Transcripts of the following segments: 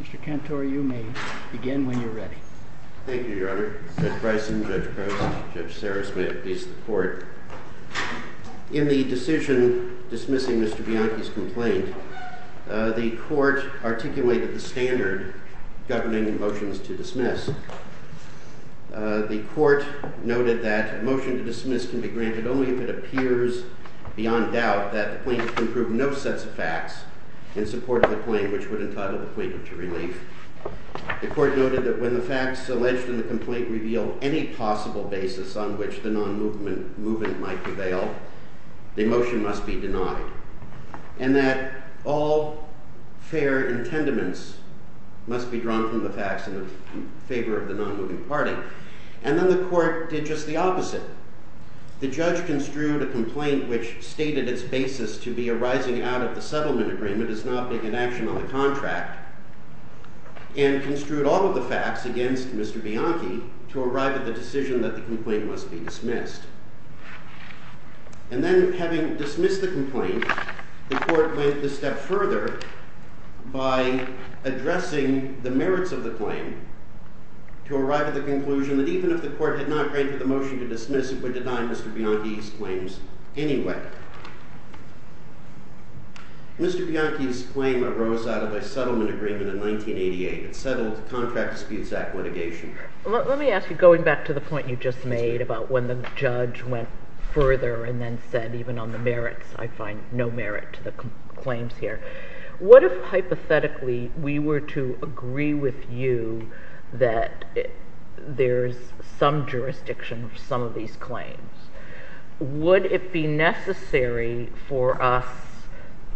Mr. Cantor, you may begin when you're ready. Thank you, Your Honor. Judge Bryson, Judge The court articulated the standard governing motions to dismiss. The court noted that a motion to dismiss can be granted only if it appears, beyond doubt, that the plaintiff can prove no sets of facts in support of the claim which would entitle the plaintiff to relief. The court noted that when the facts alleged in the complaint reveal any possible basis on which the non-movement movement might prevail, the motion must be denied, and that all fair intendaments must be drawn from the facts in favor of the non-moving party. And then the court did just the opposite. The judge construed a complaint which stated its basis to be arising out of the settlement agreement as not being in action on the contract, and construed all of the facts against Mr. Bianchi to arrive at the decision that the complaint must be dismissed. And then, having dismissed the complaint, the court went a step further by addressing the merits of the claim to arrive at the conclusion that even if the court had not granted the motion to dismiss, it would deny Mr. Bianchi's claims anyway. Mr. Bianchi's claim arose out of a settlement agreement in 1988. It settled Contract Disputes Act litigation. Let me ask you, going back to the point you just made about when the judge went further and then said, even on the merits, I find no merit to the claims here, what if hypothetically we were to agree with you that there's some jurisdiction for some of these claims? Would it be necessary for us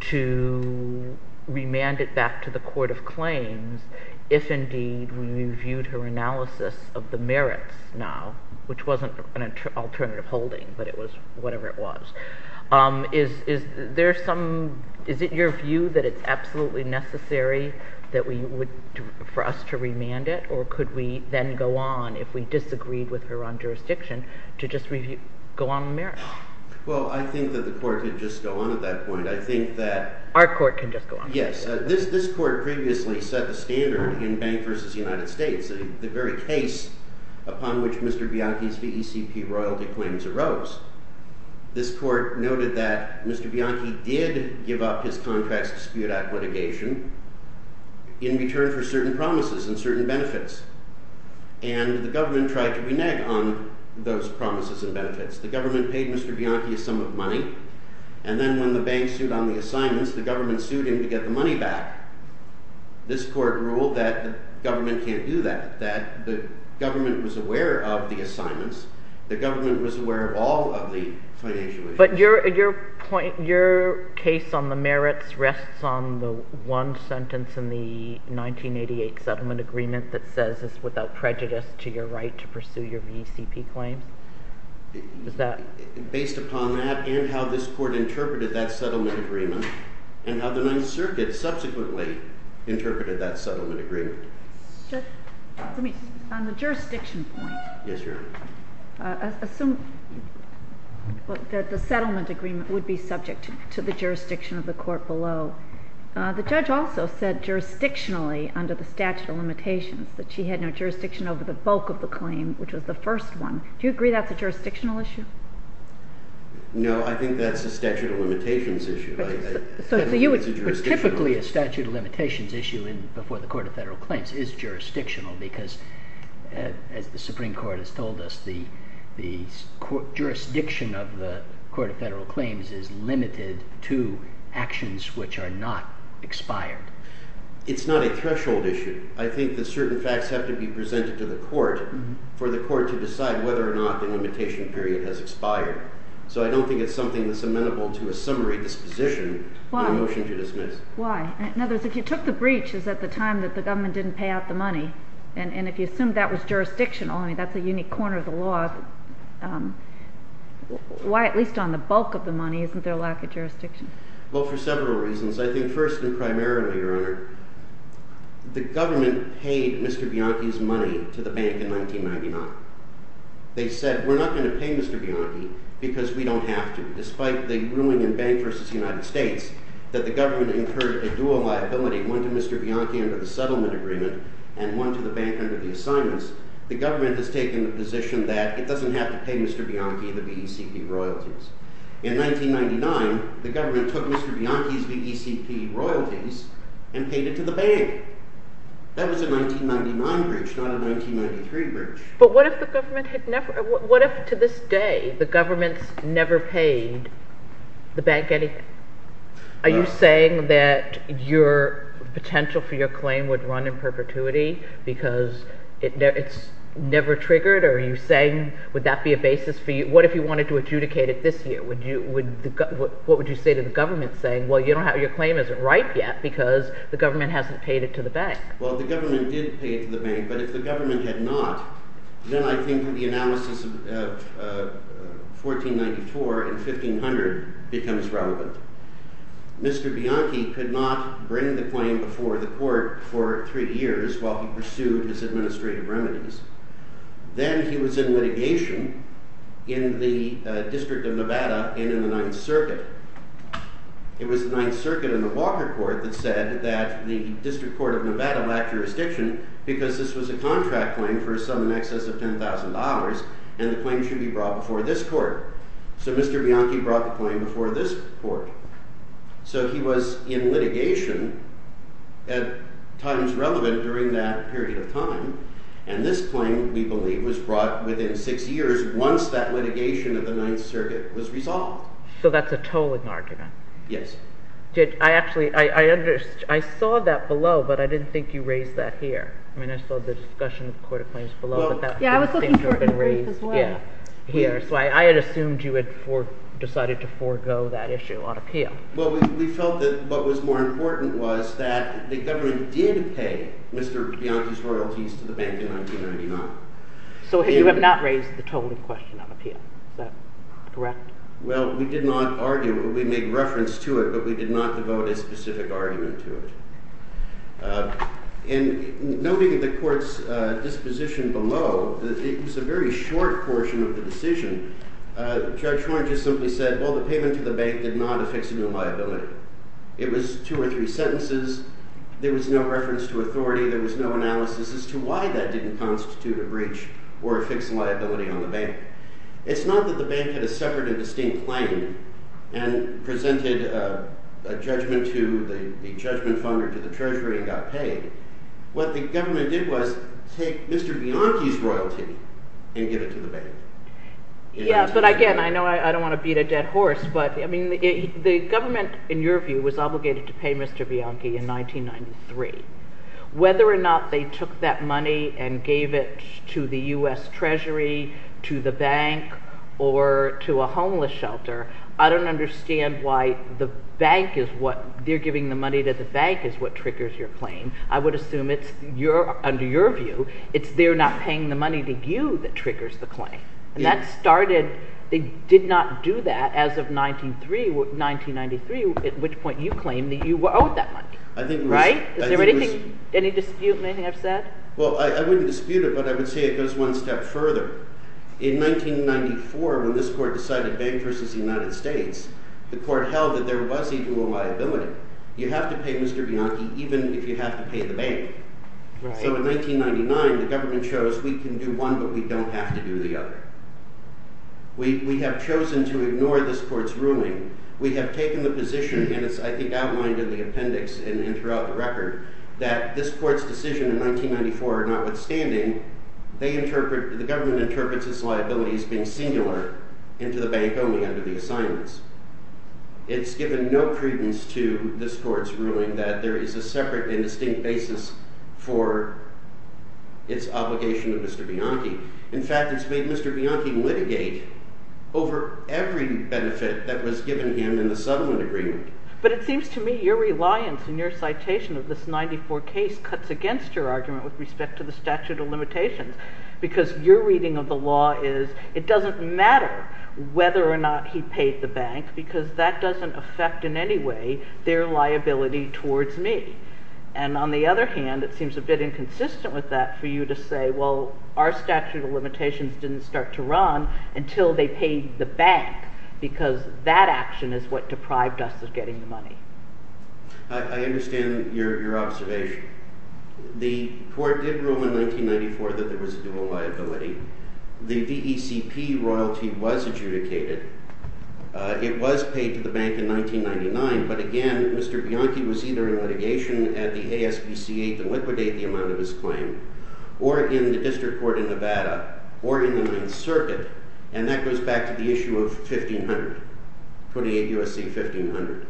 to remand it back to the court of claims if indeed we reviewed her analysis of the merits now, which wasn't an alternative holding, but it was whatever it was. Is it your view that it's absolutely necessary for us to remand it, or could we then go on, if we disagreed with her on jurisdiction, to just go on the merits? Well, I think that the court could just go on at that point. Our court can just go on. Yes, this court previously set the standard in Bank v. United States, the very case upon which Mr. Bianchi's VECP royalty claims arose. This court noted that Mr. Bianchi did give up his Contracts Dispute Act litigation in return for certain promises and certain benefits. And the government tried to renege on those promises and benefits. The government paid Mr. Bianchi a sum of money, and then when the bank sued on the assignments, the government sued him to get the money back. This court ruled that the government can't do that, that the government was aware of the assignments, the government was aware of all of the financial issues. But your case on the merits rests on the one sentence in the 1988 settlement agreement that says it's without prejudice to your right to pursue your VECP claims. Based upon that and how this court interpreted that settlement agreement, and how the Ninth Circuit subsequently interpreted that settlement agreement. On the jurisdiction point, assume that the settlement agreement would be subject to the jurisdiction of the court below. The judge also said jurisdictionally under the statute of limitations that she had no jurisdiction over the bulk of the claim, which was the first one. Do you agree that's a jurisdictional issue? No, I think that's a statute of limitations issue. Typically, a statute of limitations issue before the Court of Federal Claims is jurisdictional because, as the Supreme Court has told us, the jurisdiction of the Court of Federal Claims is limited to actions which are not expired. It's not a threshold issue. I think that certain facts have to be presented to the court for the court to decide whether or not the limitation period has expired. So I don't think it's something that's amenable to a summary disposition in a motion to dismiss. Why? In other words, if you took the breaches at the time that the government didn't pay out the money, and if you assumed that was jurisdictional, I mean, that's a unique corner of the law. Why, at least on the bulk of the money, isn't there a lack of jurisdiction? Well, for several reasons. I think first and primarily, Your Honor, the government paid Mr. Bianchi's money to the bank in 1999. They said, we're not going to pay Mr. Bianchi because we don't have to. Despite the ruling in Bank v. United States that the government incurred a dual liability, one to Mr. Bianchi under the settlement agreement and one to the bank under the assignments, the government has taken the position that it doesn't have to pay Mr. Bianchi the BECP royalties. In 1999, the government took Mr. Bianchi's BECP royalties and paid it to the bank. That was a 1999 breach, not a 1993 breach. But what if the government had never – what if to this day the government's never paid the bank anything? Are you saying that your potential for your claim would run in perpetuity because it's never triggered? Are you saying – would that be a basis for you? What if you wanted to adjudicate it this year? What would you say to the government saying, well, your claim isn't ripe yet because the government hasn't paid it to the bank? Well, the government did pay it to the bank, but if the government had not, then I think the analysis of 1494 and 1500 becomes relevant. Mr. Bianchi could not bring the claim before the court for three years while he pursued his administrative remedies. Then he was in litigation in the District of Nevada and in the Ninth Circuit. It was the Ninth Circuit and the Walker Court that said that the District Court of Nevada lacked jurisdiction because this was a contract claim for a sum in excess of $10,000 and the claim should be brought before this court. So Mr. Bianchi brought the claim before this court. So he was in litigation at times relevant during that period of time, and this claim, we believe, was brought within six years once that litigation of the Ninth Circuit was resolved. So that's a tolling argument. Yes. I actually – I saw that below, but I didn't think you raised that here. I mean, I saw the discussion of court of claims below, but that didn't seem to have been raised here. So I had assumed you had decided to forego that issue on appeal. Well, we felt that what was more important was that the government did pay Mr. Bianchi's royalties to the bank in 1999. So you have not raised the tolling question on appeal. Is that correct? Well, we did not argue – we made reference to it, but we did not devote a specific argument to it. In noting the court's disposition below, it was a very short portion of the decision. Judge Horn just simply said, well, the payment to the bank did not affix a new liability. It was two or three sentences. There was no reference to authority. There was no analysis as to why that didn't constitute a breach or a fixed liability on the bank. It's not that the bank had a separate and distinct claim and presented a judgment to the treasury and got paid. What the government did was take Mr. Bianchi's royalty and give it to the bank. Yeah, but again, I know I don't want to beat a dead horse, but the government, in your view, was obligated to pay Mr. Bianchi in 1993. Whether or not they took that money and gave it to the U.S. Treasury, to the bank, or to a homeless shelter, I don't understand why the bank is what – they're giving the money to the bank is what triggers your claim. I would assume it's – under your view, it's they're not paying the money to you that triggers the claim. And that started – they did not do that as of 1993, at which point you claimed that you owed that money. Right? Is there anything – any dispute, anything I've said? Well, I wouldn't dispute it, but I would say it goes one step further. In 1994, when this court decided bank versus the United States, the court held that there was even a liability. You have to pay Mr. Bianchi even if you have to pay the bank. So in 1999, the government shows we can do one, but we don't have to do the other. We have chosen to ignore this court's ruling. We have taken the position, and it's, I think, outlined in the appendix and throughout the record, that this court's decision in 1994, notwithstanding, they interpret – the government interprets its liabilities being singular into the bank only under the assignments. It's given no credence to this court's ruling that there is a separate and distinct basis for its obligation to Mr. Bianchi. In fact, it's made Mr. Bianchi litigate over every benefit that was given him in the settlement agreement. But it seems to me your reliance in your citation of this 1994 case cuts against your argument with respect to the statute of limitations because your reading of the law is it doesn't matter whether or not he paid the bank because that doesn't affect in any way their liability towards me. And on the other hand, it seems a bit inconsistent with that for you to say, well, our statute of limitations didn't start to run until they paid the bank because that action is what deprived us of getting the money. I understand your observation. The court did rule in 1994 that there was a dual liability. The VECP royalty was adjudicated. It was paid to the bank in 1999. But again, Mr. Bianchi was either in litigation at the ASPCA to liquidate the amount of his claim or in the district court in Nevada or in the Ninth Circuit. And that goes back to the issue of 1500, 28 U.S.C. 1500.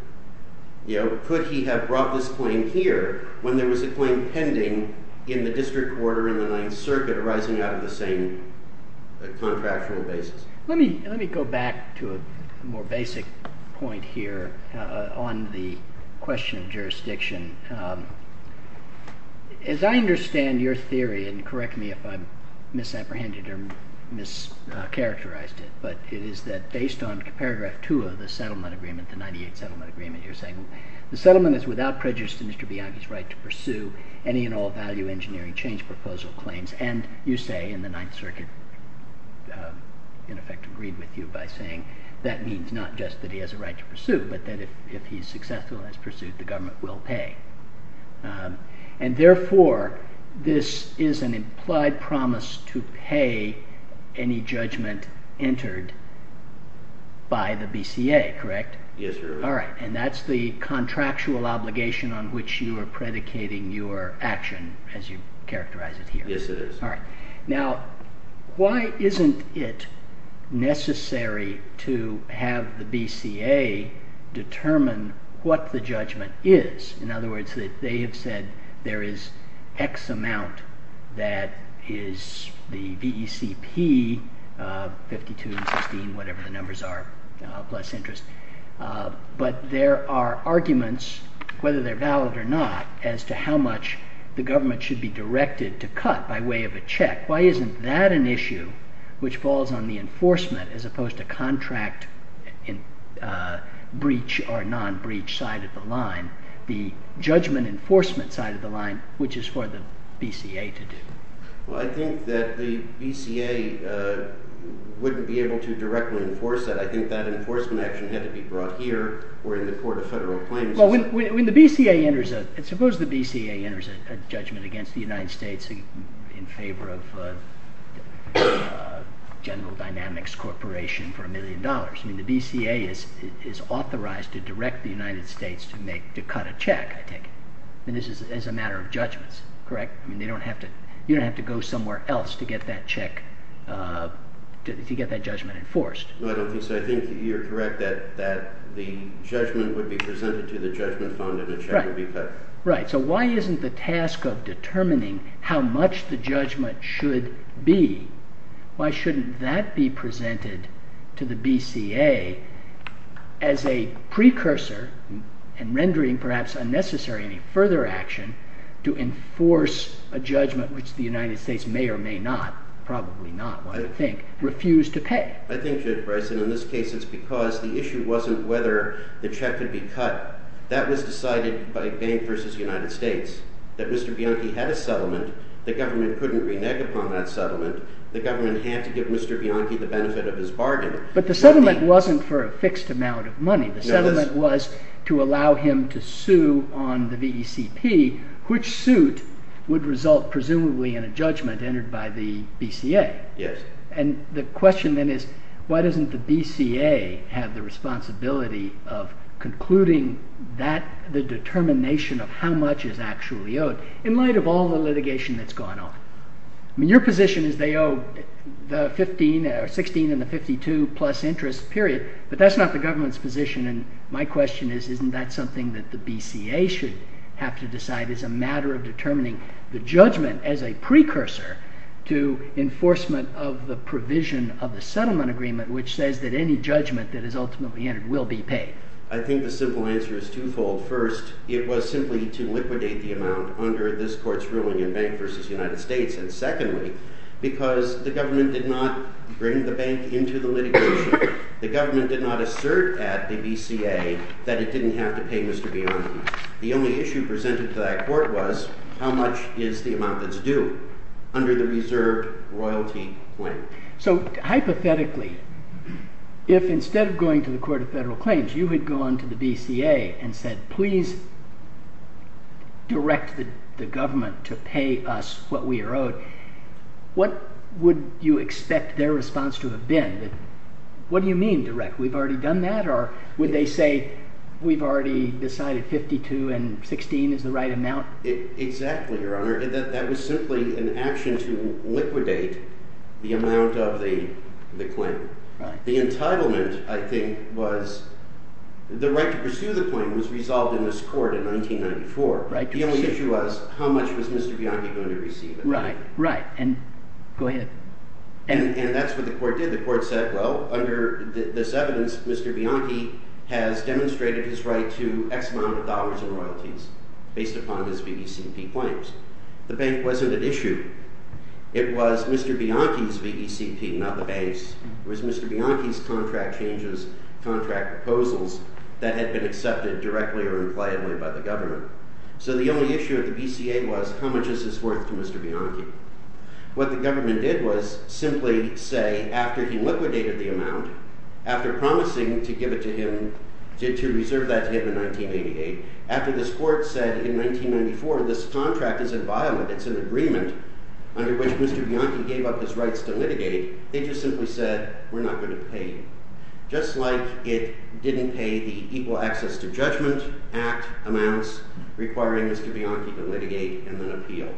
Could he have brought this claim here when there was a claim pending in the district court or in the Ninth Circuit arising out of the same contractual basis? Let me go back to a more basic point here on the question of jurisdiction. As I understand your theory, and correct me if I've misapprehended or mischaracterized it, but it is that based on paragraph 2 of the settlement agreement, the 98 settlement agreement, you're saying the settlement is without prejudice to Mr. Bianchi's right to pursue any and all value engineering change proposal claims. And you say in the Ninth Circuit, in effect agreed with you by saying, that means not just that he has a right to pursue, but that if he's successful in his pursuit, the government will pay. And therefore, this is an implied promise to pay any judgment entered by the BCA, correct? Yes, sir. All right. And that's the contractual obligation on which you are predicating your action as you characterize it here. Yes, it is. All right. Now, why isn't it necessary to have the BCA determine what the judgment is? In other words, they have said there is X amount that is the VECP, 52 and 16, whatever the numbers are, plus interest. But there are arguments, whether they're valid or not, as to how much the government should be directed to cut by way of a check. Why isn't that an issue which falls on the enforcement as opposed to contract breach or non-breach side of the line, the judgment enforcement side of the line, which is for the BCA to do? Well, I think that the BCA wouldn't be able to directly enforce that. I think that enforcement action had to be brought here or in the court of federal claims. Well, suppose the BCA enters a judgment against the United States in favor of General Dynamics Corporation for a million dollars. I mean, the BCA is authorized to direct the United States to cut a check, I take it, as a matter of judgments, correct? I mean, you don't have to go somewhere else to get that check, to get that judgment enforced. No, I don't think so. I think you're correct that the judgment would be presented to the judgment fund and the check would be cut. Right. So why isn't the task of determining how much the judgment should be, why shouldn't that be presented to the BCA as a precursor and rendering perhaps unnecessary any further action to enforce a judgment, which the United States may or may not, probably not, I would think, refuse to pay? I think, Judge Bryson, in this case it's because the issue wasn't whether the check could be cut. That was decided by Bank v. United States, that Mr. Bianchi had a settlement, the government couldn't renege upon that settlement, the government had to give Mr. Bianchi the benefit of his bargain. But the settlement wasn't for a fixed amount of money. The settlement was to allow him to sue on the VECP, which suit would result, presumably, in a judgment entered by the BCA. Yes. And the question then is, why doesn't the BCA have the responsibility of concluding the determination of how much is actually owed, in light of all the litigation that's gone on? I mean, your position is they owe the $16 and the $52 plus interest, period. But that's not the government's position, and my question is, isn't that something that the BCA should have to decide as a matter of determining the judgment as a precursor to enforcement of the provision of the settlement agreement, which says that any judgment that is ultimately entered will be paid? I think the simple answer is twofold. First, it was simply to liquidate the amount under this court's ruling in Bank v. United States. And secondly, because the government did not bring the bank into the litigation, the government did not assert at the BCA that it didn't have to pay Mr. Bianchi. The only issue presented to that court was, how much is the amount that's due under the reserve royalty claim? So, hypothetically, if instead of going to the Court of Federal Claims, you had gone to the BCA and said, please direct the government to pay us what we are owed, what would you expect their response to have been? What do you mean, direct? We've already done that? Or would they say, we've already decided $52 and $16 is the right amount? Exactly, Your Honor. That was simply an action to liquidate the amount of the claim. The entitlement, I think, was the right to pursue the claim was resolved in this court in 1994. The only issue was, how much was Mr. Bianchi going to receive? Right. Right. And go ahead. And that's what the court did. The court said, well, under this evidence, Mr. Bianchi has demonstrated his right to X amount of dollars in royalties based upon his VECP claims. The bank wasn't at issue. It was Mr. Bianchi's VECP, not the bank's. It was Mr. Bianchi's contract changes, contract proposals that had been accepted directly or impliedly by the government. So the only issue at the BCA was, how much is this worth to Mr. Bianchi? What the government did was simply say, after he liquidated the amount, after promising to give it to him, to reserve that to him in 1988, after this court said in 1994, this contract isn't violent, it's an agreement, under which Mr. Bianchi gave up his rights to litigate, they just simply said, we're not going to pay you. Just like it didn't pay the Equal Access to Judgment Act amounts requiring Mr. Bianchi to litigate and then appeal.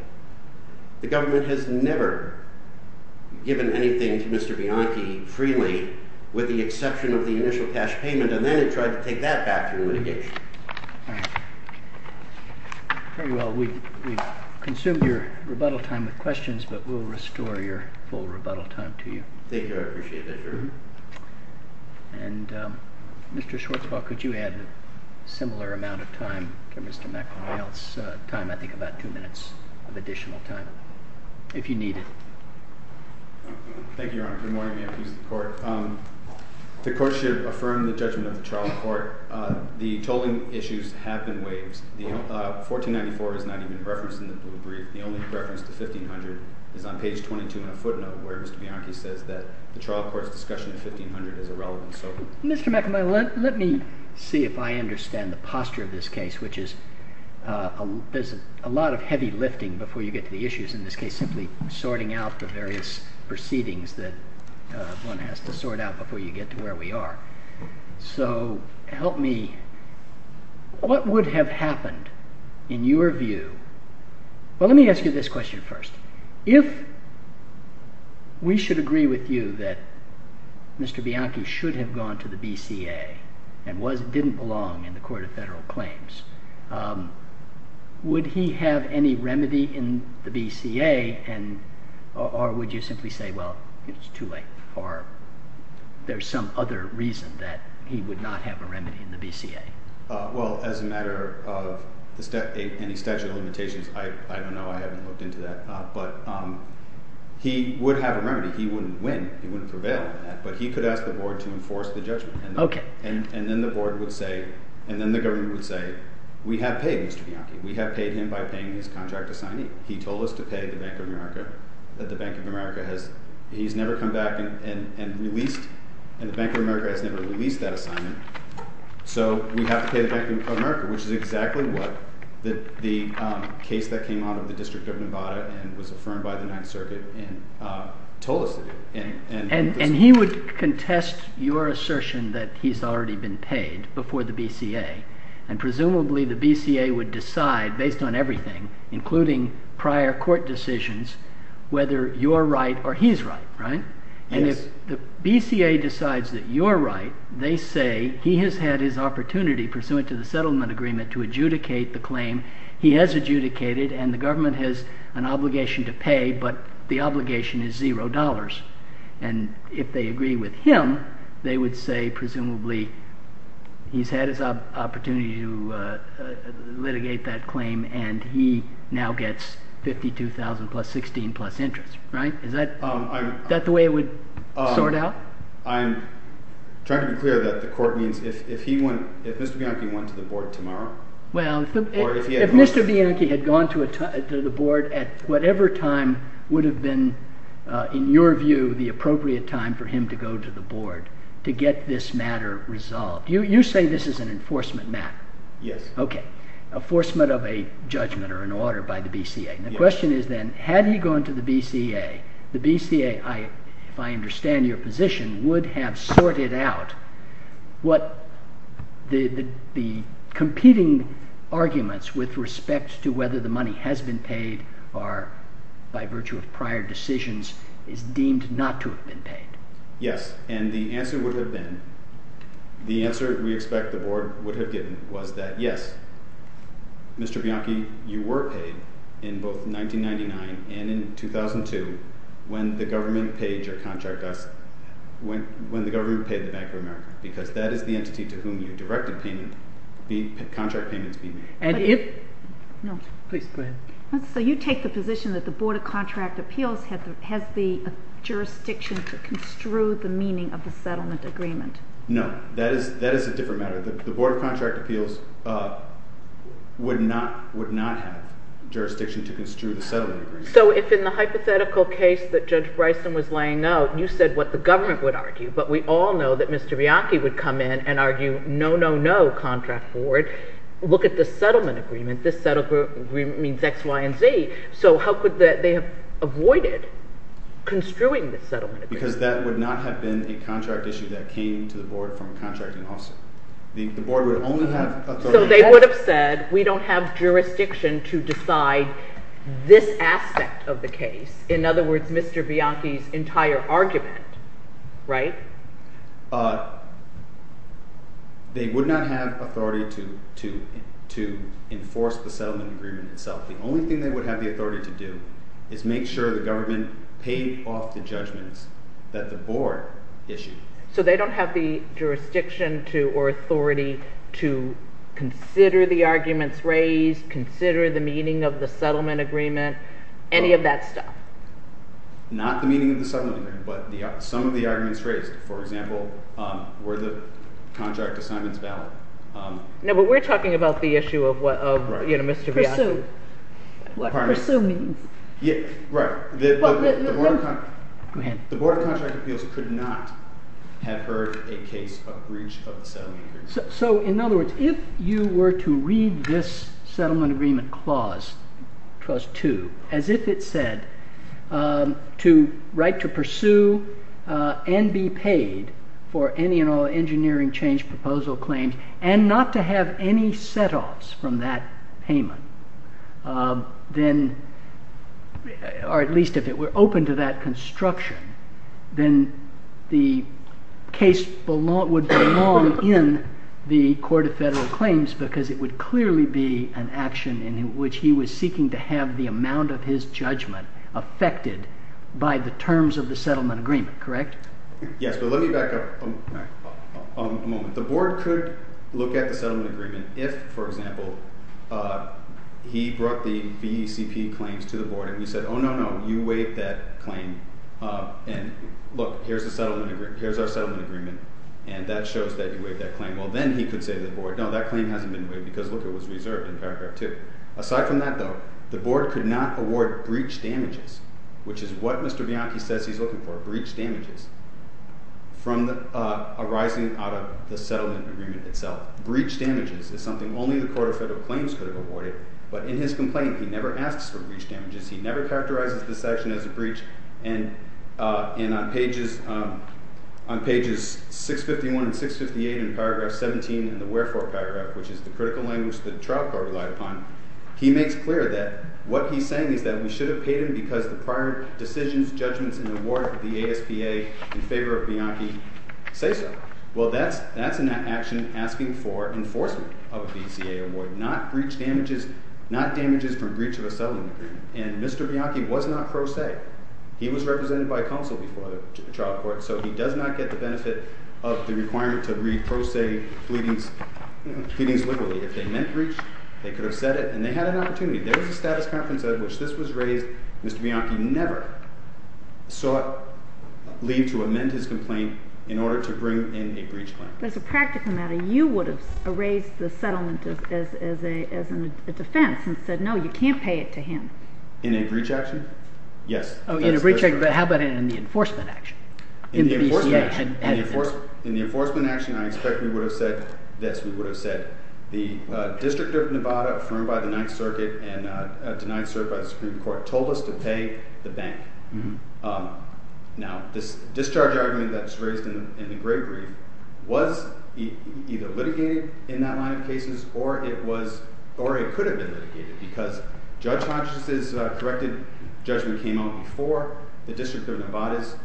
The government has never given anything to Mr. Bianchi freely with the exception of the initial cash payment, and then it tried to take that back through litigation. All right. Very well. We've consumed your rebuttal time with questions, but we'll restore your full rebuttal time to you. Thank you. I appreciate that, Your Honor. And Mr. Schwartzwald, could you add a similar amount of time to Mr. McAvoy's time? I think about two minutes of additional time, if you need it. Thank you, Your Honor. Good morning, Your Honor. The court should affirm the judgment of the trial court. The tolling issues have been waived. 1494 is not even referenced in the blue brief. The only reference to 1500 is on page 22 in a footnote where Mr. Bianchi says that the trial court's discussion of 1500 is irrelevant. Mr. McAvoy, let me see if I understand the posture of this case, which is there's a lot of heavy lifting before you get to the issues, in this case simply sorting out the various proceedings that one has to sort out before you get to where we are. So help me. What would have happened in your view? Well, let me ask you this question first. If we should agree with you that Mr. Bianchi should have gone to the BCA and didn't belong in the court of federal claims, would he have any remedy in the BCA, or would you simply say, well, it's too late, or there's some other reason that he would not have a remedy in the BCA? Well, as a matter of any statute of limitations, I don't know. I haven't looked into that. But he would have a remedy. He wouldn't win. He wouldn't prevail on that. But he could ask the board to enforce the judgment. And then the board would say, and then the government would say, we have paid Mr. Bianchi. We have paid him by paying his contract assignee. He told us to pay the Bank of America that the Bank of America has – he's never come back and released – and the Bank of America has never released that assignment. So we have to pay the Bank of America, which is exactly what the case that came out of the District of Nevada and was affirmed by the Ninth Circuit told us to do. And he would contest your assertion that he's already been paid before the BCA. And presumably the BCA would decide, based on everything, including prior court decisions, whether you're right or he's right, right? Yes. If the BCA decides that you're right, they say he has had his opportunity, pursuant to the settlement agreement, to adjudicate the claim. He has adjudicated, and the government has an obligation to pay, but the obligation is $0. And if they agree with him, they would say presumably he's had his opportunity to litigate that claim, and he now gets $52,000 plus $16,000 plus interest, right? Is that the way it would sort out? I'm trying to be clear that the court means if Mr. Bianchi went to the board tomorrow? Well, if Mr. Bianchi had gone to the board at whatever time would have been, in your view, the appropriate time for him to go to the board to get this matter resolved. You say this is an enforcement matter? Yes. Okay. Enforcement of a judgment or an order by the BCA. The question is then, had he gone to the BCA, the BCA, if I understand your position, would have sorted out what the competing arguments with respect to whether the money has been paid or by virtue of prior decisions is deemed not to have been paid. Yes, and the answer would have been, the answer we expect the board would have given was that, Mr. Bianchi, you were paid in both 1999 and in 2002 when the government paid your contract us, when the government paid the Bank of America, because that is the entity to whom you directed payment, the contract payments being made. And if, no, please go ahead. So you take the position that the Board of Contract Appeals has the jurisdiction to construe the meaning of the settlement agreement? No, that is a different matter. The Board of Contract Appeals would not have jurisdiction to construe the settlement agreement. So if in the hypothetical case that Judge Bryson was laying out, you said what the government would argue, but we all know that Mr. Bianchi would come in and argue, no, no, no, contract board. Look at the settlement agreement. This settlement agreement means X, Y, and Z. So how could they have avoided construing the settlement agreement? Because that would not have been a contract issue that came to the board from contracting also. The board would only have authority. So they would have said we don't have jurisdiction to decide this aspect of the case. In other words, Mr. Bianchi's entire argument, right? They would not have authority to enforce the settlement agreement itself. The only thing they would have the authority to do is make sure the government paid off the judgments that the board issued. So they don't have the jurisdiction or authority to consider the arguments raised, consider the meaning of the settlement agreement, any of that stuff? Not the meaning of the settlement agreement, but some of the arguments raised. For example, were the contract assignments valid? No, but we're talking about the issue of Mr. Bianchi. Presuming. Right. Go ahead. The Board of Contract Appeals could not have heard a case of breach of the settlement agreement. So in other words, if you were to read this settlement agreement clause, clause 2, as if it said to write to pursue and be paid for any and all engineering change proposal claims and not to have any set-offs from that payment, then, or at least if it were open to that construction, then the case would belong in the Court of Federal Claims because it would clearly be an action in which he was seeking to have the amount of his judgment affected by the terms of the settlement agreement, correct? Yes, but let me back up a moment. The Board could look at the settlement agreement if, for example, he brought the VECP claims to the Board and we said, oh, no, no, you waived that claim and, look, here's our settlement agreement and that shows that you waived that claim. Well, then he could say to the Board, no, that claim hasn't been waived because, look, it was reserved in paragraph 2. Aside from that, though, the Board could not award breach damages, which is what Mr. Bianchi says he's looking for, breach damages, arising out of the settlement agreement itself. Breach damages is something only the Court of Federal Claims could have awarded, but in his complaint he never asks for breach damages. He never characterizes this action as a breach, and on pages 651 and 658 in paragraph 17 in the wherefore paragraph, which is the critical language the trial court relied upon, he makes clear that what he's saying is that we should have paid him because the prior decisions, judgments, and award of the ASPA in favor of Bianchi say so. Well, that's an action asking for enforcement of a VCA award, not breach damages, not damages from breach of a settlement agreement, and Mr. Bianchi was not pro se. He was represented by a counsel before the trial court, so he does not get the benefit of the requirement to read pro se pleadings liberally. If they meant breach, they could have said it, and they had an opportunity. There was a status conference at which this was raised. Mr. Bianchi never sought leave to amend his complaint in order to bring in a breach claim. As a practical matter, you would have erased the settlement as a defense and said no, you can't pay it to him. In a breach action? Yes. In a breach action, but how about in the enforcement action? In the enforcement action, I expect we would have said this. We would have said the District of Nevada affirmed by the Ninth Circuit and denied cert by the Supreme Court told us to pay the bank. Now, this discharge argument that was raised in the great brief was either litigated in that line of cases or it could have been litigated because Judge Pontius' corrected judgment came out before the District of Nevada's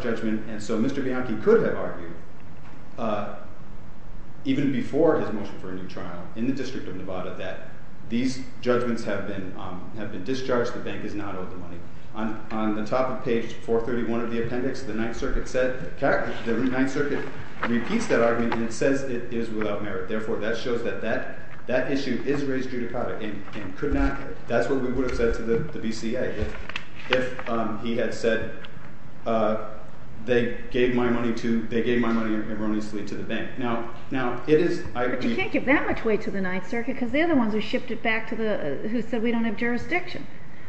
judgment, and so Mr. Bianchi could have argued even before his motion for a new trial in the District of Nevada that these judgments have been discharged. The bank is not owed the money. On the top of page 431 of the appendix, the Ninth Circuit repeats that argument and it says it is without merit. Therefore, that shows that that issue is raised judicata and that's what we would have said to the BCA if he had said they gave my money erroneously to the bank. But you can't give that much weight to the Ninth Circuit because they're the ones who said we don't have jurisdiction.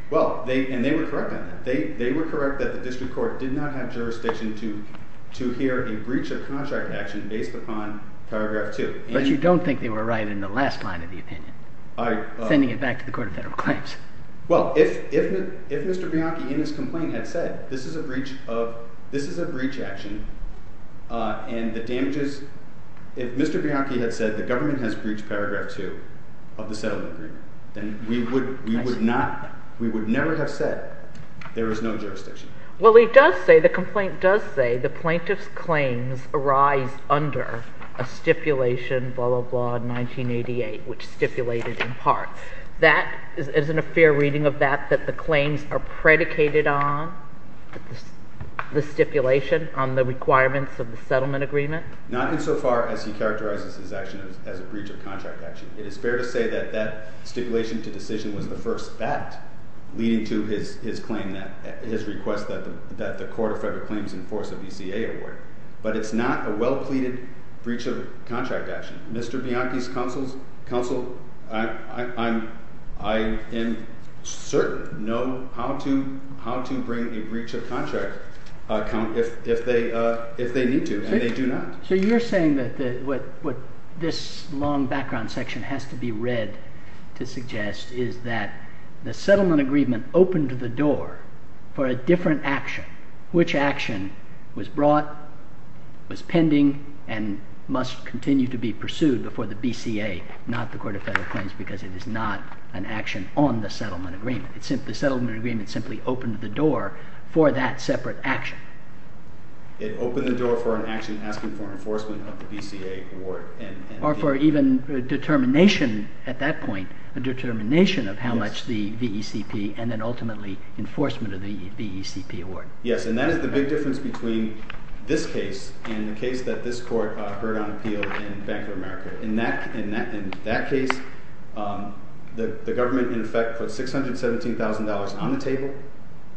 Well, and they were correct on that. They were correct that the District Court did not have jurisdiction to hear a breach of contract action based upon paragraph 2. But you don't think they were right in the last line of the opinion, sending it back to the Court of Federal Claims. Well, if Mr. Bianchi in his complaint had said this is a breach action and the damages, if Mr. Bianchi had said the government has breached paragraph 2 of the settlement agreement, then we would never have said there is no jurisdiction. Well, he does say, the complaint does say the plaintiff's claims arise under a stipulation, blah, blah, blah, 1988, which stipulated in part. Isn't a fair reading of that, that the claims are predicated on the stipulation on the requirements of the settlement agreement? Not insofar as he characterizes his action as a breach of contract action. It is fair to say that that stipulation to decision was the first fact leading to his claim, his request that the Court of Federal Claims enforce a BCA award. But it's not a well-pleaded breach of contract action. Mr. Bianchi's counsel, I am certain know how to bring a breach of contract if they need to, and they do not. So you're saying that what this long background section has to be read to suggest is that the settlement agreement opened the door for a different action, which action was brought, was pending, and must continue to be pursued before the BCA, not the Court of Federal Claims, because it is not an action on the settlement agreement. The settlement agreement simply opened the door for that separate action. It opened the door for an action asking for enforcement of the BCA award. Or for even a determination at that point, a determination of how much the VECP and then ultimately enforcement of the VECP award. Yes, and that is the big difference between this case and the case that this Court heard on appeal in Bank of America. In that case, the government in effect put $617,000 on the table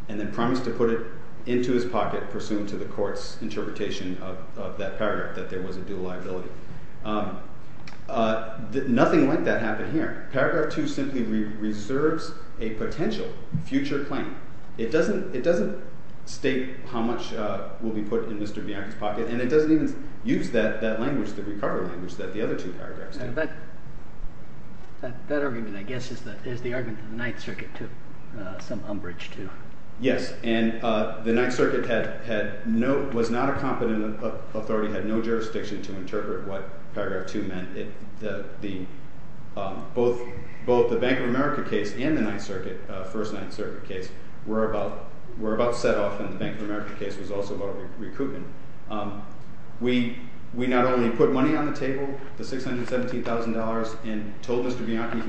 and then promised to put it into his pocket pursuant to the Court's interpretation of that paragraph that there was a dual liability. Nothing like that happened here. Paragraph 2 simply reserves a potential future claim. It doesn't state how much will be put in Mr. Bianchi's pocket, and it doesn't even use that recovery language that the other two paragraphs do. That argument, I guess, is the argument that the Ninth Circuit took some umbrage to. Yes, and the Ninth Circuit was not a competent authority, had no jurisdiction to interpret what paragraph 2 meant. Both the Bank of America case and the First Ninth Circuit case were about set off, and the Bank of America case was also about recruitment. We not only put money on the table, the $617,000, and told Mr. Bianchi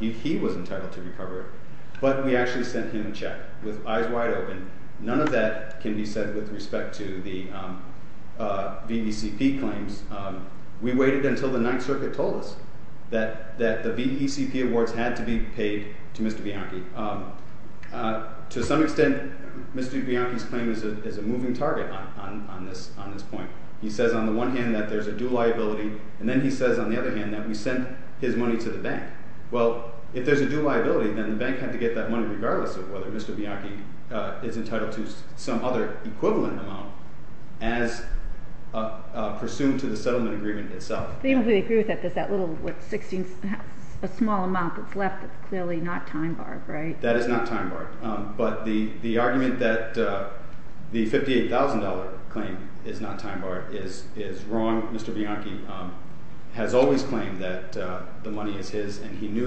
he was entitled to recover it, but we actually sent him a check with eyes wide open. None of that can be said with respect to the VECP claims. We waited until the Ninth Circuit told us that the VECP awards had to be paid to Mr. Bianchi. To some extent, Mr. Bianchi's claim is a moving target on this point. He says on the one hand that there's a dual liability, and then he says on the other hand that we sent his money to the bank. Well, if there's a dual liability, then the bank had to get that money regardless of whether Mr. Bianchi is entitled to some other equivalent amount as pursuant to the settlement agreement itself. Even if we agree with that, there's that little 16, a small amount that's left that's clearly not time-barred, right? That is not time-barred. But the argument that the $58,000 claim is not time-barred is wrong. Mr. Bianchi has always claimed that the money is his, and he knew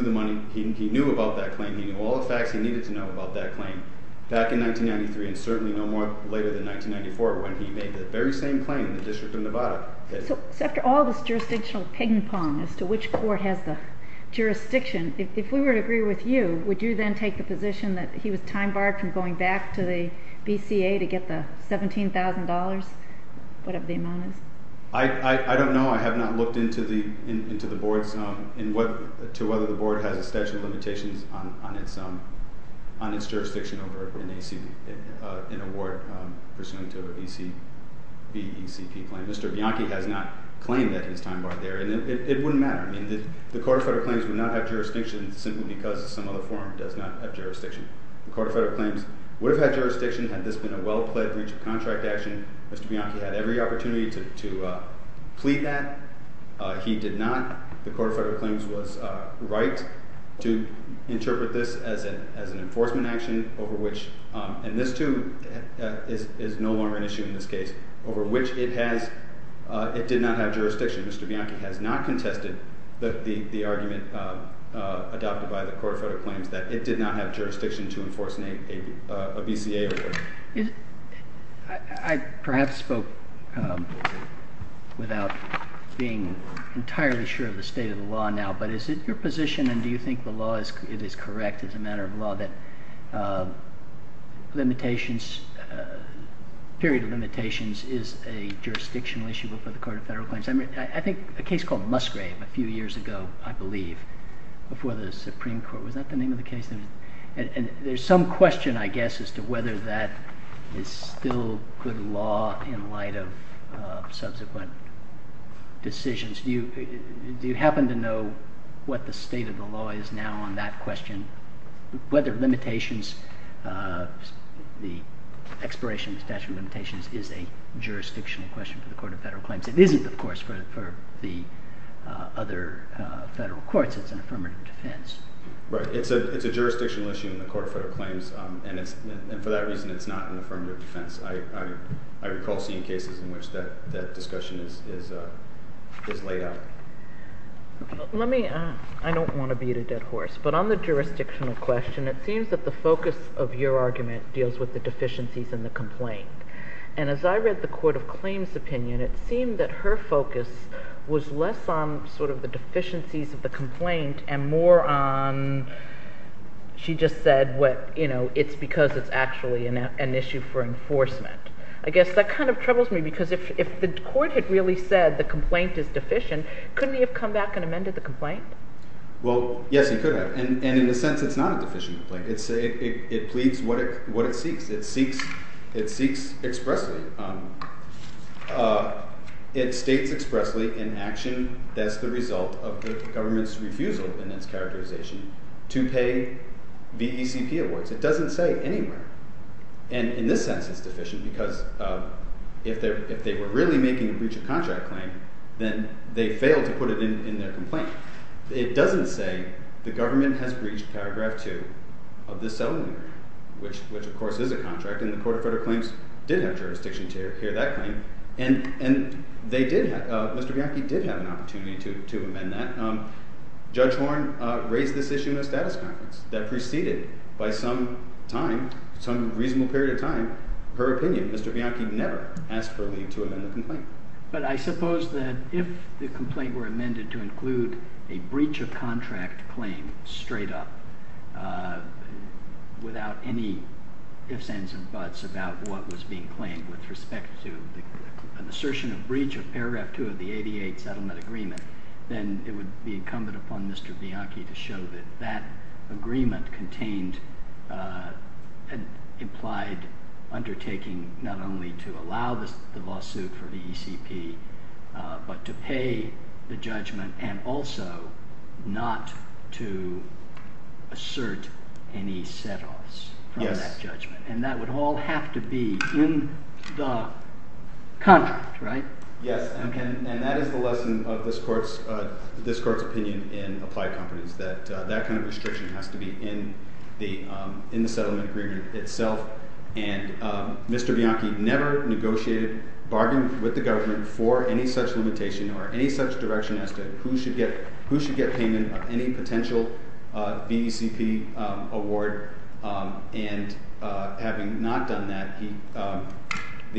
about that claim. He knew all the facts he needed to know about that claim back in 1993, and certainly no more later than 1994 when he made the very same claim in the District of Nevada. So after all this jurisdictional ping-pong as to which court has the jurisdiction, if we were to agree with you, would you then take the position that he was time-barred from going back to the BCA to get the $17,000, whatever the amount is? I don't know. I have not looked into the board's—to whether the board has a statute of limitations on its jurisdiction over an award pursuant to a BCBECP claim. Mr. Bianchi has not claimed that he's time-barred there, and it wouldn't matter. I mean, the Court of Federal Claims would not have jurisdiction simply because some other forum does not have jurisdiction. The Court of Federal Claims would have had jurisdiction had this been a well-pledged breach of contract action. Mr. Bianchi had every opportunity to plead that. He did not. The Court of Federal Claims was right to interpret this as an enforcement action over which— and this, too, is no longer an issue in this case—over which it did not have jurisdiction. Mr. Bianchi has not contested the argument adopted by the Court of Federal Claims that it did not have jurisdiction to enforce a BCA award. I perhaps spoke without being entirely sure of the state of the law now, but is it your position, and do you think the law is—it is correct as a matter of law that limitations—period of limitations is a jurisdictional issue before the Court of Federal Claims? I mean, I think a case called Musgrave a few years ago, I believe, before the Supreme Court. Was that the name of the case? And there's some question, I guess, as to whether that is still good law in light of subsequent decisions. Do you happen to know what the state of the law is now on that question? Whether limitations—the expiration of the statute of limitations is a jurisdictional question for the Court of Federal Claims. It isn't, of course, for the other federal courts. It's an affirmative defense. Right. It's a jurisdictional issue in the Court of Federal Claims, and for that reason it's not an affirmative defense. I recall seeing cases in which that discussion is laid out. Let me—I don't want to beat a dead horse, but on the jurisdictional question, it seems that the focus of your argument deals with the deficiencies in the complaint. And as I read the Court of Claims' opinion, it seemed that her focus was less on sort of the deficiencies of the complaint and more on—she just said it's because it's actually an issue for enforcement. I guess that kind of troubles me because if the court had really said the complaint is deficient, couldn't he have come back and amended the complaint? Well, yes, he could have, and in a sense it's not a deficient complaint. It pleads what it seeks. It seeks expressly—it states expressly in action that's the result of the government's refusal in its characterization to pay VECP awards. It doesn't say anywhere. And in this sense it's deficient because if they were really making a breach of contract claim, then they failed to put it in their complaint. It doesn't say the government has breached paragraph 2 of this settlement agreement, which of course is a contract, and the Court of Federal Claims did have jurisdiction to hear that claim. And they did—Mr. Bianchi did have an opportunity to amend that. Judge Horne raised this issue in a status conference that preceded, by some time, some reasonable period of time, her opinion. Mr. Bianchi never asked for leave to amend the complaint. But I suppose that if the complaint were amended to include a breach of contract claim straight up without any ifs, ands, or buts about what was being claimed with respect to an assertion of breach of paragraph 2 of the 88 settlement agreement, then it would be incumbent upon Mr. Bianchi to show that that agreement contained an implied undertaking not only to allow the lawsuit for the ECP, but to pay the judgment and also not to assert any set-offs from that judgment. And that would all have to be in the contract, right? Yes, and that is the lesson of this Court's opinion in applied competence, that that kind of restriction has to be in the settlement agreement itself. And Mr. Bianchi never negotiated, bargained with the government for any such limitation or any such direction as to who should get payment of any potential BECP award. And having not done that,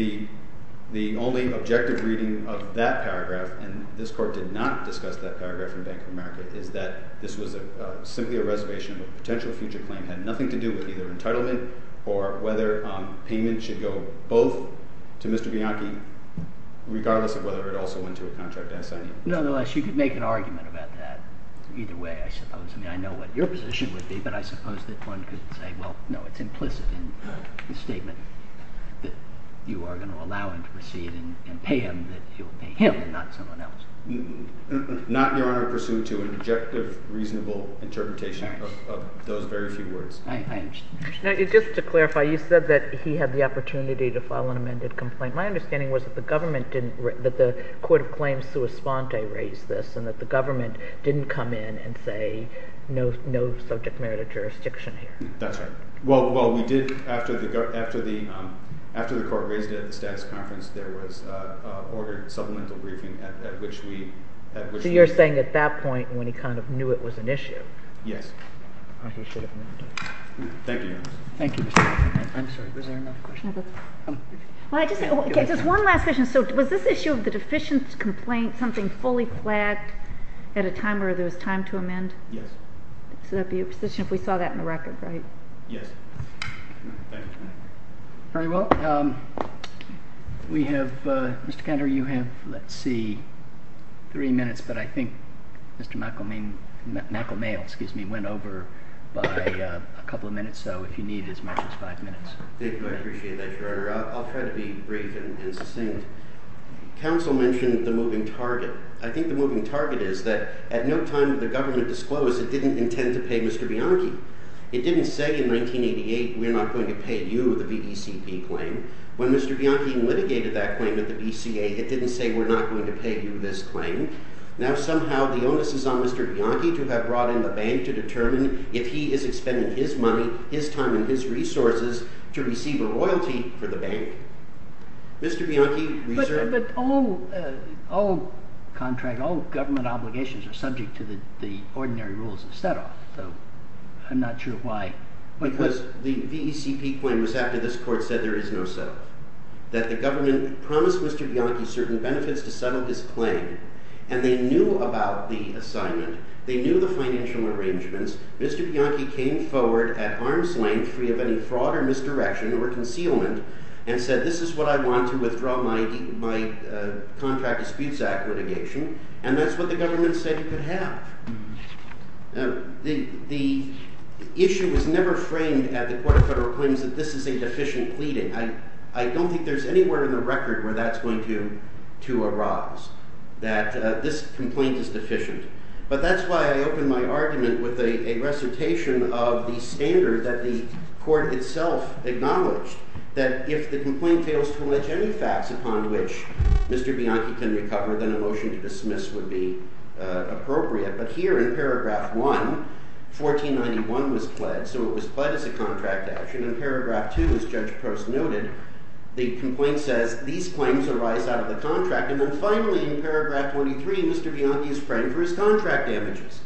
the only objective reading of that paragraph— and this Court did not discuss that paragraph in Bank of America— is that this was simply a reservation of a potential future claim. It had nothing to do with either entitlement or whether payment should go both to Mr. Bianchi, regardless of whether it also went to a contract assignee. Nonetheless, you could make an argument about that either way, I suppose. I mean, I know what your position would be, but I suppose that one could say, well, no, it's implicit in the statement that you are going to allow him to proceed and pay him that he will pay him and not someone else. Not, Your Honor, pursuant to an objective, reasonable interpretation of those very few words. I understand. Now, just to clarify, you said that he had the opportunity to file an amended complaint. My understanding was that the government didn't—that the court of claims sua sponte raised this and that the government didn't come in and say no subject merit of jurisdiction here. That's right. Well, we did, after the court raised it at the status conference, there was an ordered supplemental briefing at which we— So you're saying at that point when he kind of knew it was an issue. Yes. He should have known. Thank you, Your Honor. Thank you, Mr. Bianchi. I'm sorry, was there another question? Well, I just—just one last question. So was this issue of the deficient complaint something fully flagged at a time where there was time to amend? Yes. So that would be your position if we saw that in the record, right? Yes. Thank you. Very well. We have—Mr. Kenter, you have, let's see, three minutes, but I think Mr. McElmail went over by a couple of minutes, so if you need as much as five minutes. Thank you. I appreciate that, Your Honor. I'll try to be brief and succinct. Counsel mentioned the moving target. I think the moving target is that at no time did the government disclose it didn't intend to pay Mr. Bianchi. It didn't say in 1988 we're not going to pay you the BECP claim. When Mr. Bianchi litigated that claim at the BCA, it didn't say we're not going to pay you this claim. Now somehow the onus is on Mr. Bianchi to have brought in the bank to determine if he is expending his money, his time, and his resources to receive a royalty for the bank. Mr. Bianchi reserved— But all contract, all government obligations are subject to the ordinary rules of set-off, so I'm not sure why— Because the BECP claim was after this court said there is no set-off, that the government promised Mr. Bianchi certain benefits to settle his claim, and they knew about the assignment. They knew the financial arrangements. Mr. Bianchi came forward at arm's length free of any fraud or misdirection or concealment and said this is what I want to withdraw my contract disputes act litigation, and that's what the government said it could have. The issue was never framed at the Court of Federal Claims that this is a deficient pleading. I don't think there's anywhere in the record where that's going to arise, that this complaint is deficient. But that's why I opened my argument with a recitation of the standard that the court itself acknowledged, that if the complaint fails to allege any facts upon which Mr. Bianchi can recover, then a motion to dismiss would be appropriate. But here in paragraph 1, 1491 was pledged, so it was pledged as a contract action. In paragraph 2, as Judge Post noted, the complaint says these claims arise out of the contract, and then finally in paragraph 23, Mr. Bianchi is framed for his contract damages.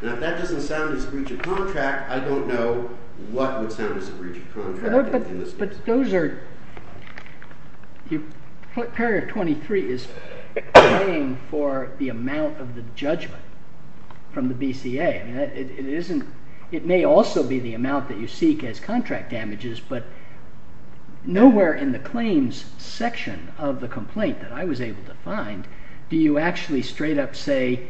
Now, if that doesn't sound as breach of contract, I don't know what would sound as a breach of contract in this case. But paragraph 23 is paying for the amount of the judgment from the BCA. It may also be the amount that you seek as contract damages, but nowhere in the claims section of the complaint that I was able to find do you actually straight up say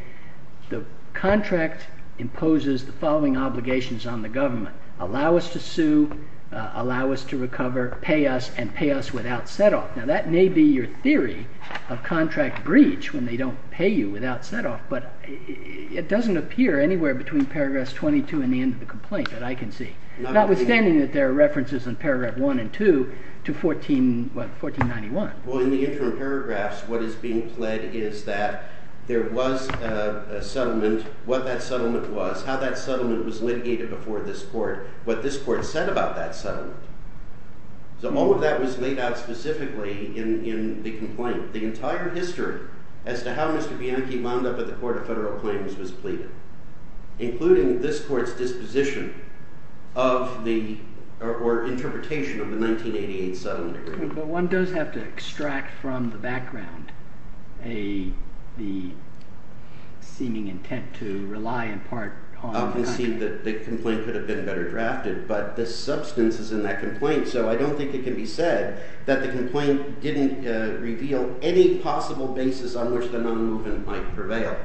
the contract imposes the following obligations on the government. Allow us to sue, allow us to recover, pay us, and pay us without set-off. Now, that may be your theory of contract breach when they don't pay you without set-off, but it doesn't appear anywhere between paragraph 22 and the end of the complaint that I can see, notwithstanding that there are references in paragraph 1 and 2 to 1491. Well, in the interim paragraphs, what is being pled is that there was a settlement. And what that settlement was, how that settlement was litigated before this court, what this court said about that settlement. So all of that was laid out specifically in the complaint. The entire history as to how Mr. Bianchi wound up at the Court of Federal Claims was pleaded, including this court's disposition of the—or interpretation of the 1988 settlement agreement. But one does have to extract from the background the seeming intent to rely in part on— I can see that the complaint could have been better drafted, but the substance is in that complaint. So I don't think it can be said that the complaint didn't reveal any possible basis on which the non-movement might prevail.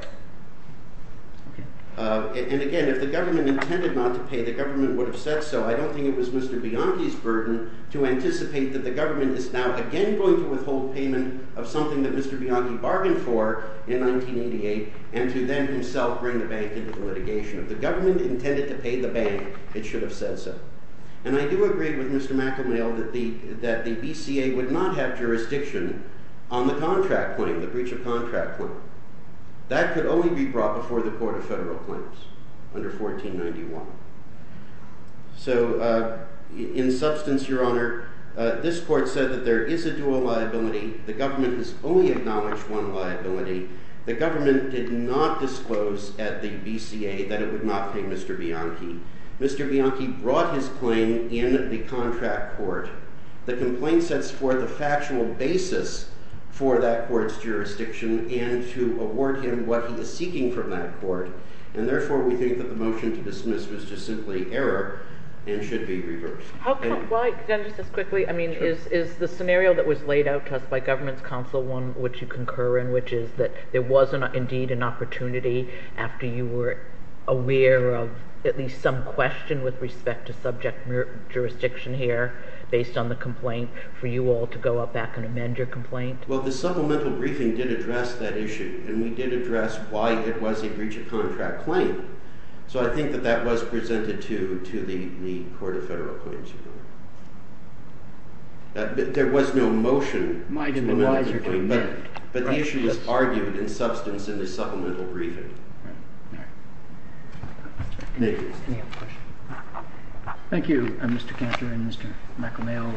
And again, if the government intended not to pay, the government would have said so. I don't think it was Mr. Bianchi's burden to anticipate that the government is now again going to withhold payment of something that Mr. Bianchi bargained for in 1988, and to then himself bring the bank into litigation. If the government intended to pay the bank, it should have said so. And I do agree with Mr. McElmail that the BCA would not have jurisdiction on the contract claim, the breach of contract claim. That could only be brought before the Court of Federal Claims under 1491. So in substance, Your Honor, this court said that there is a dual liability. The government has only acknowledged one liability. The government did not disclose at the BCA that it would not pay Mr. Bianchi. Mr. Bianchi brought his claim in the contract court. The complaint sets forth a factual basis for that court's jurisdiction and to award him what he is seeking from that court. And therefore we think that the motion to dismiss was just simply error and should be reversed. Can I just ask quickly? I mean, is the scenario that was laid out to us by government's counsel one which you concur in, which is that there was indeed an opportunity after you were aware of at least some question with respect to subject jurisdiction here based on the complaint for you all to go up back and amend your complaint? Well, the supplemental briefing did address that issue. And we did address why it was a breach of contract claim. So I think that that was presented to the Court of Federal Claims. There was no motion to amend the complaint. But the issue was argued in substance in the supplemental briefing. Thank you, Mr. Cantor and Mr. McEmail.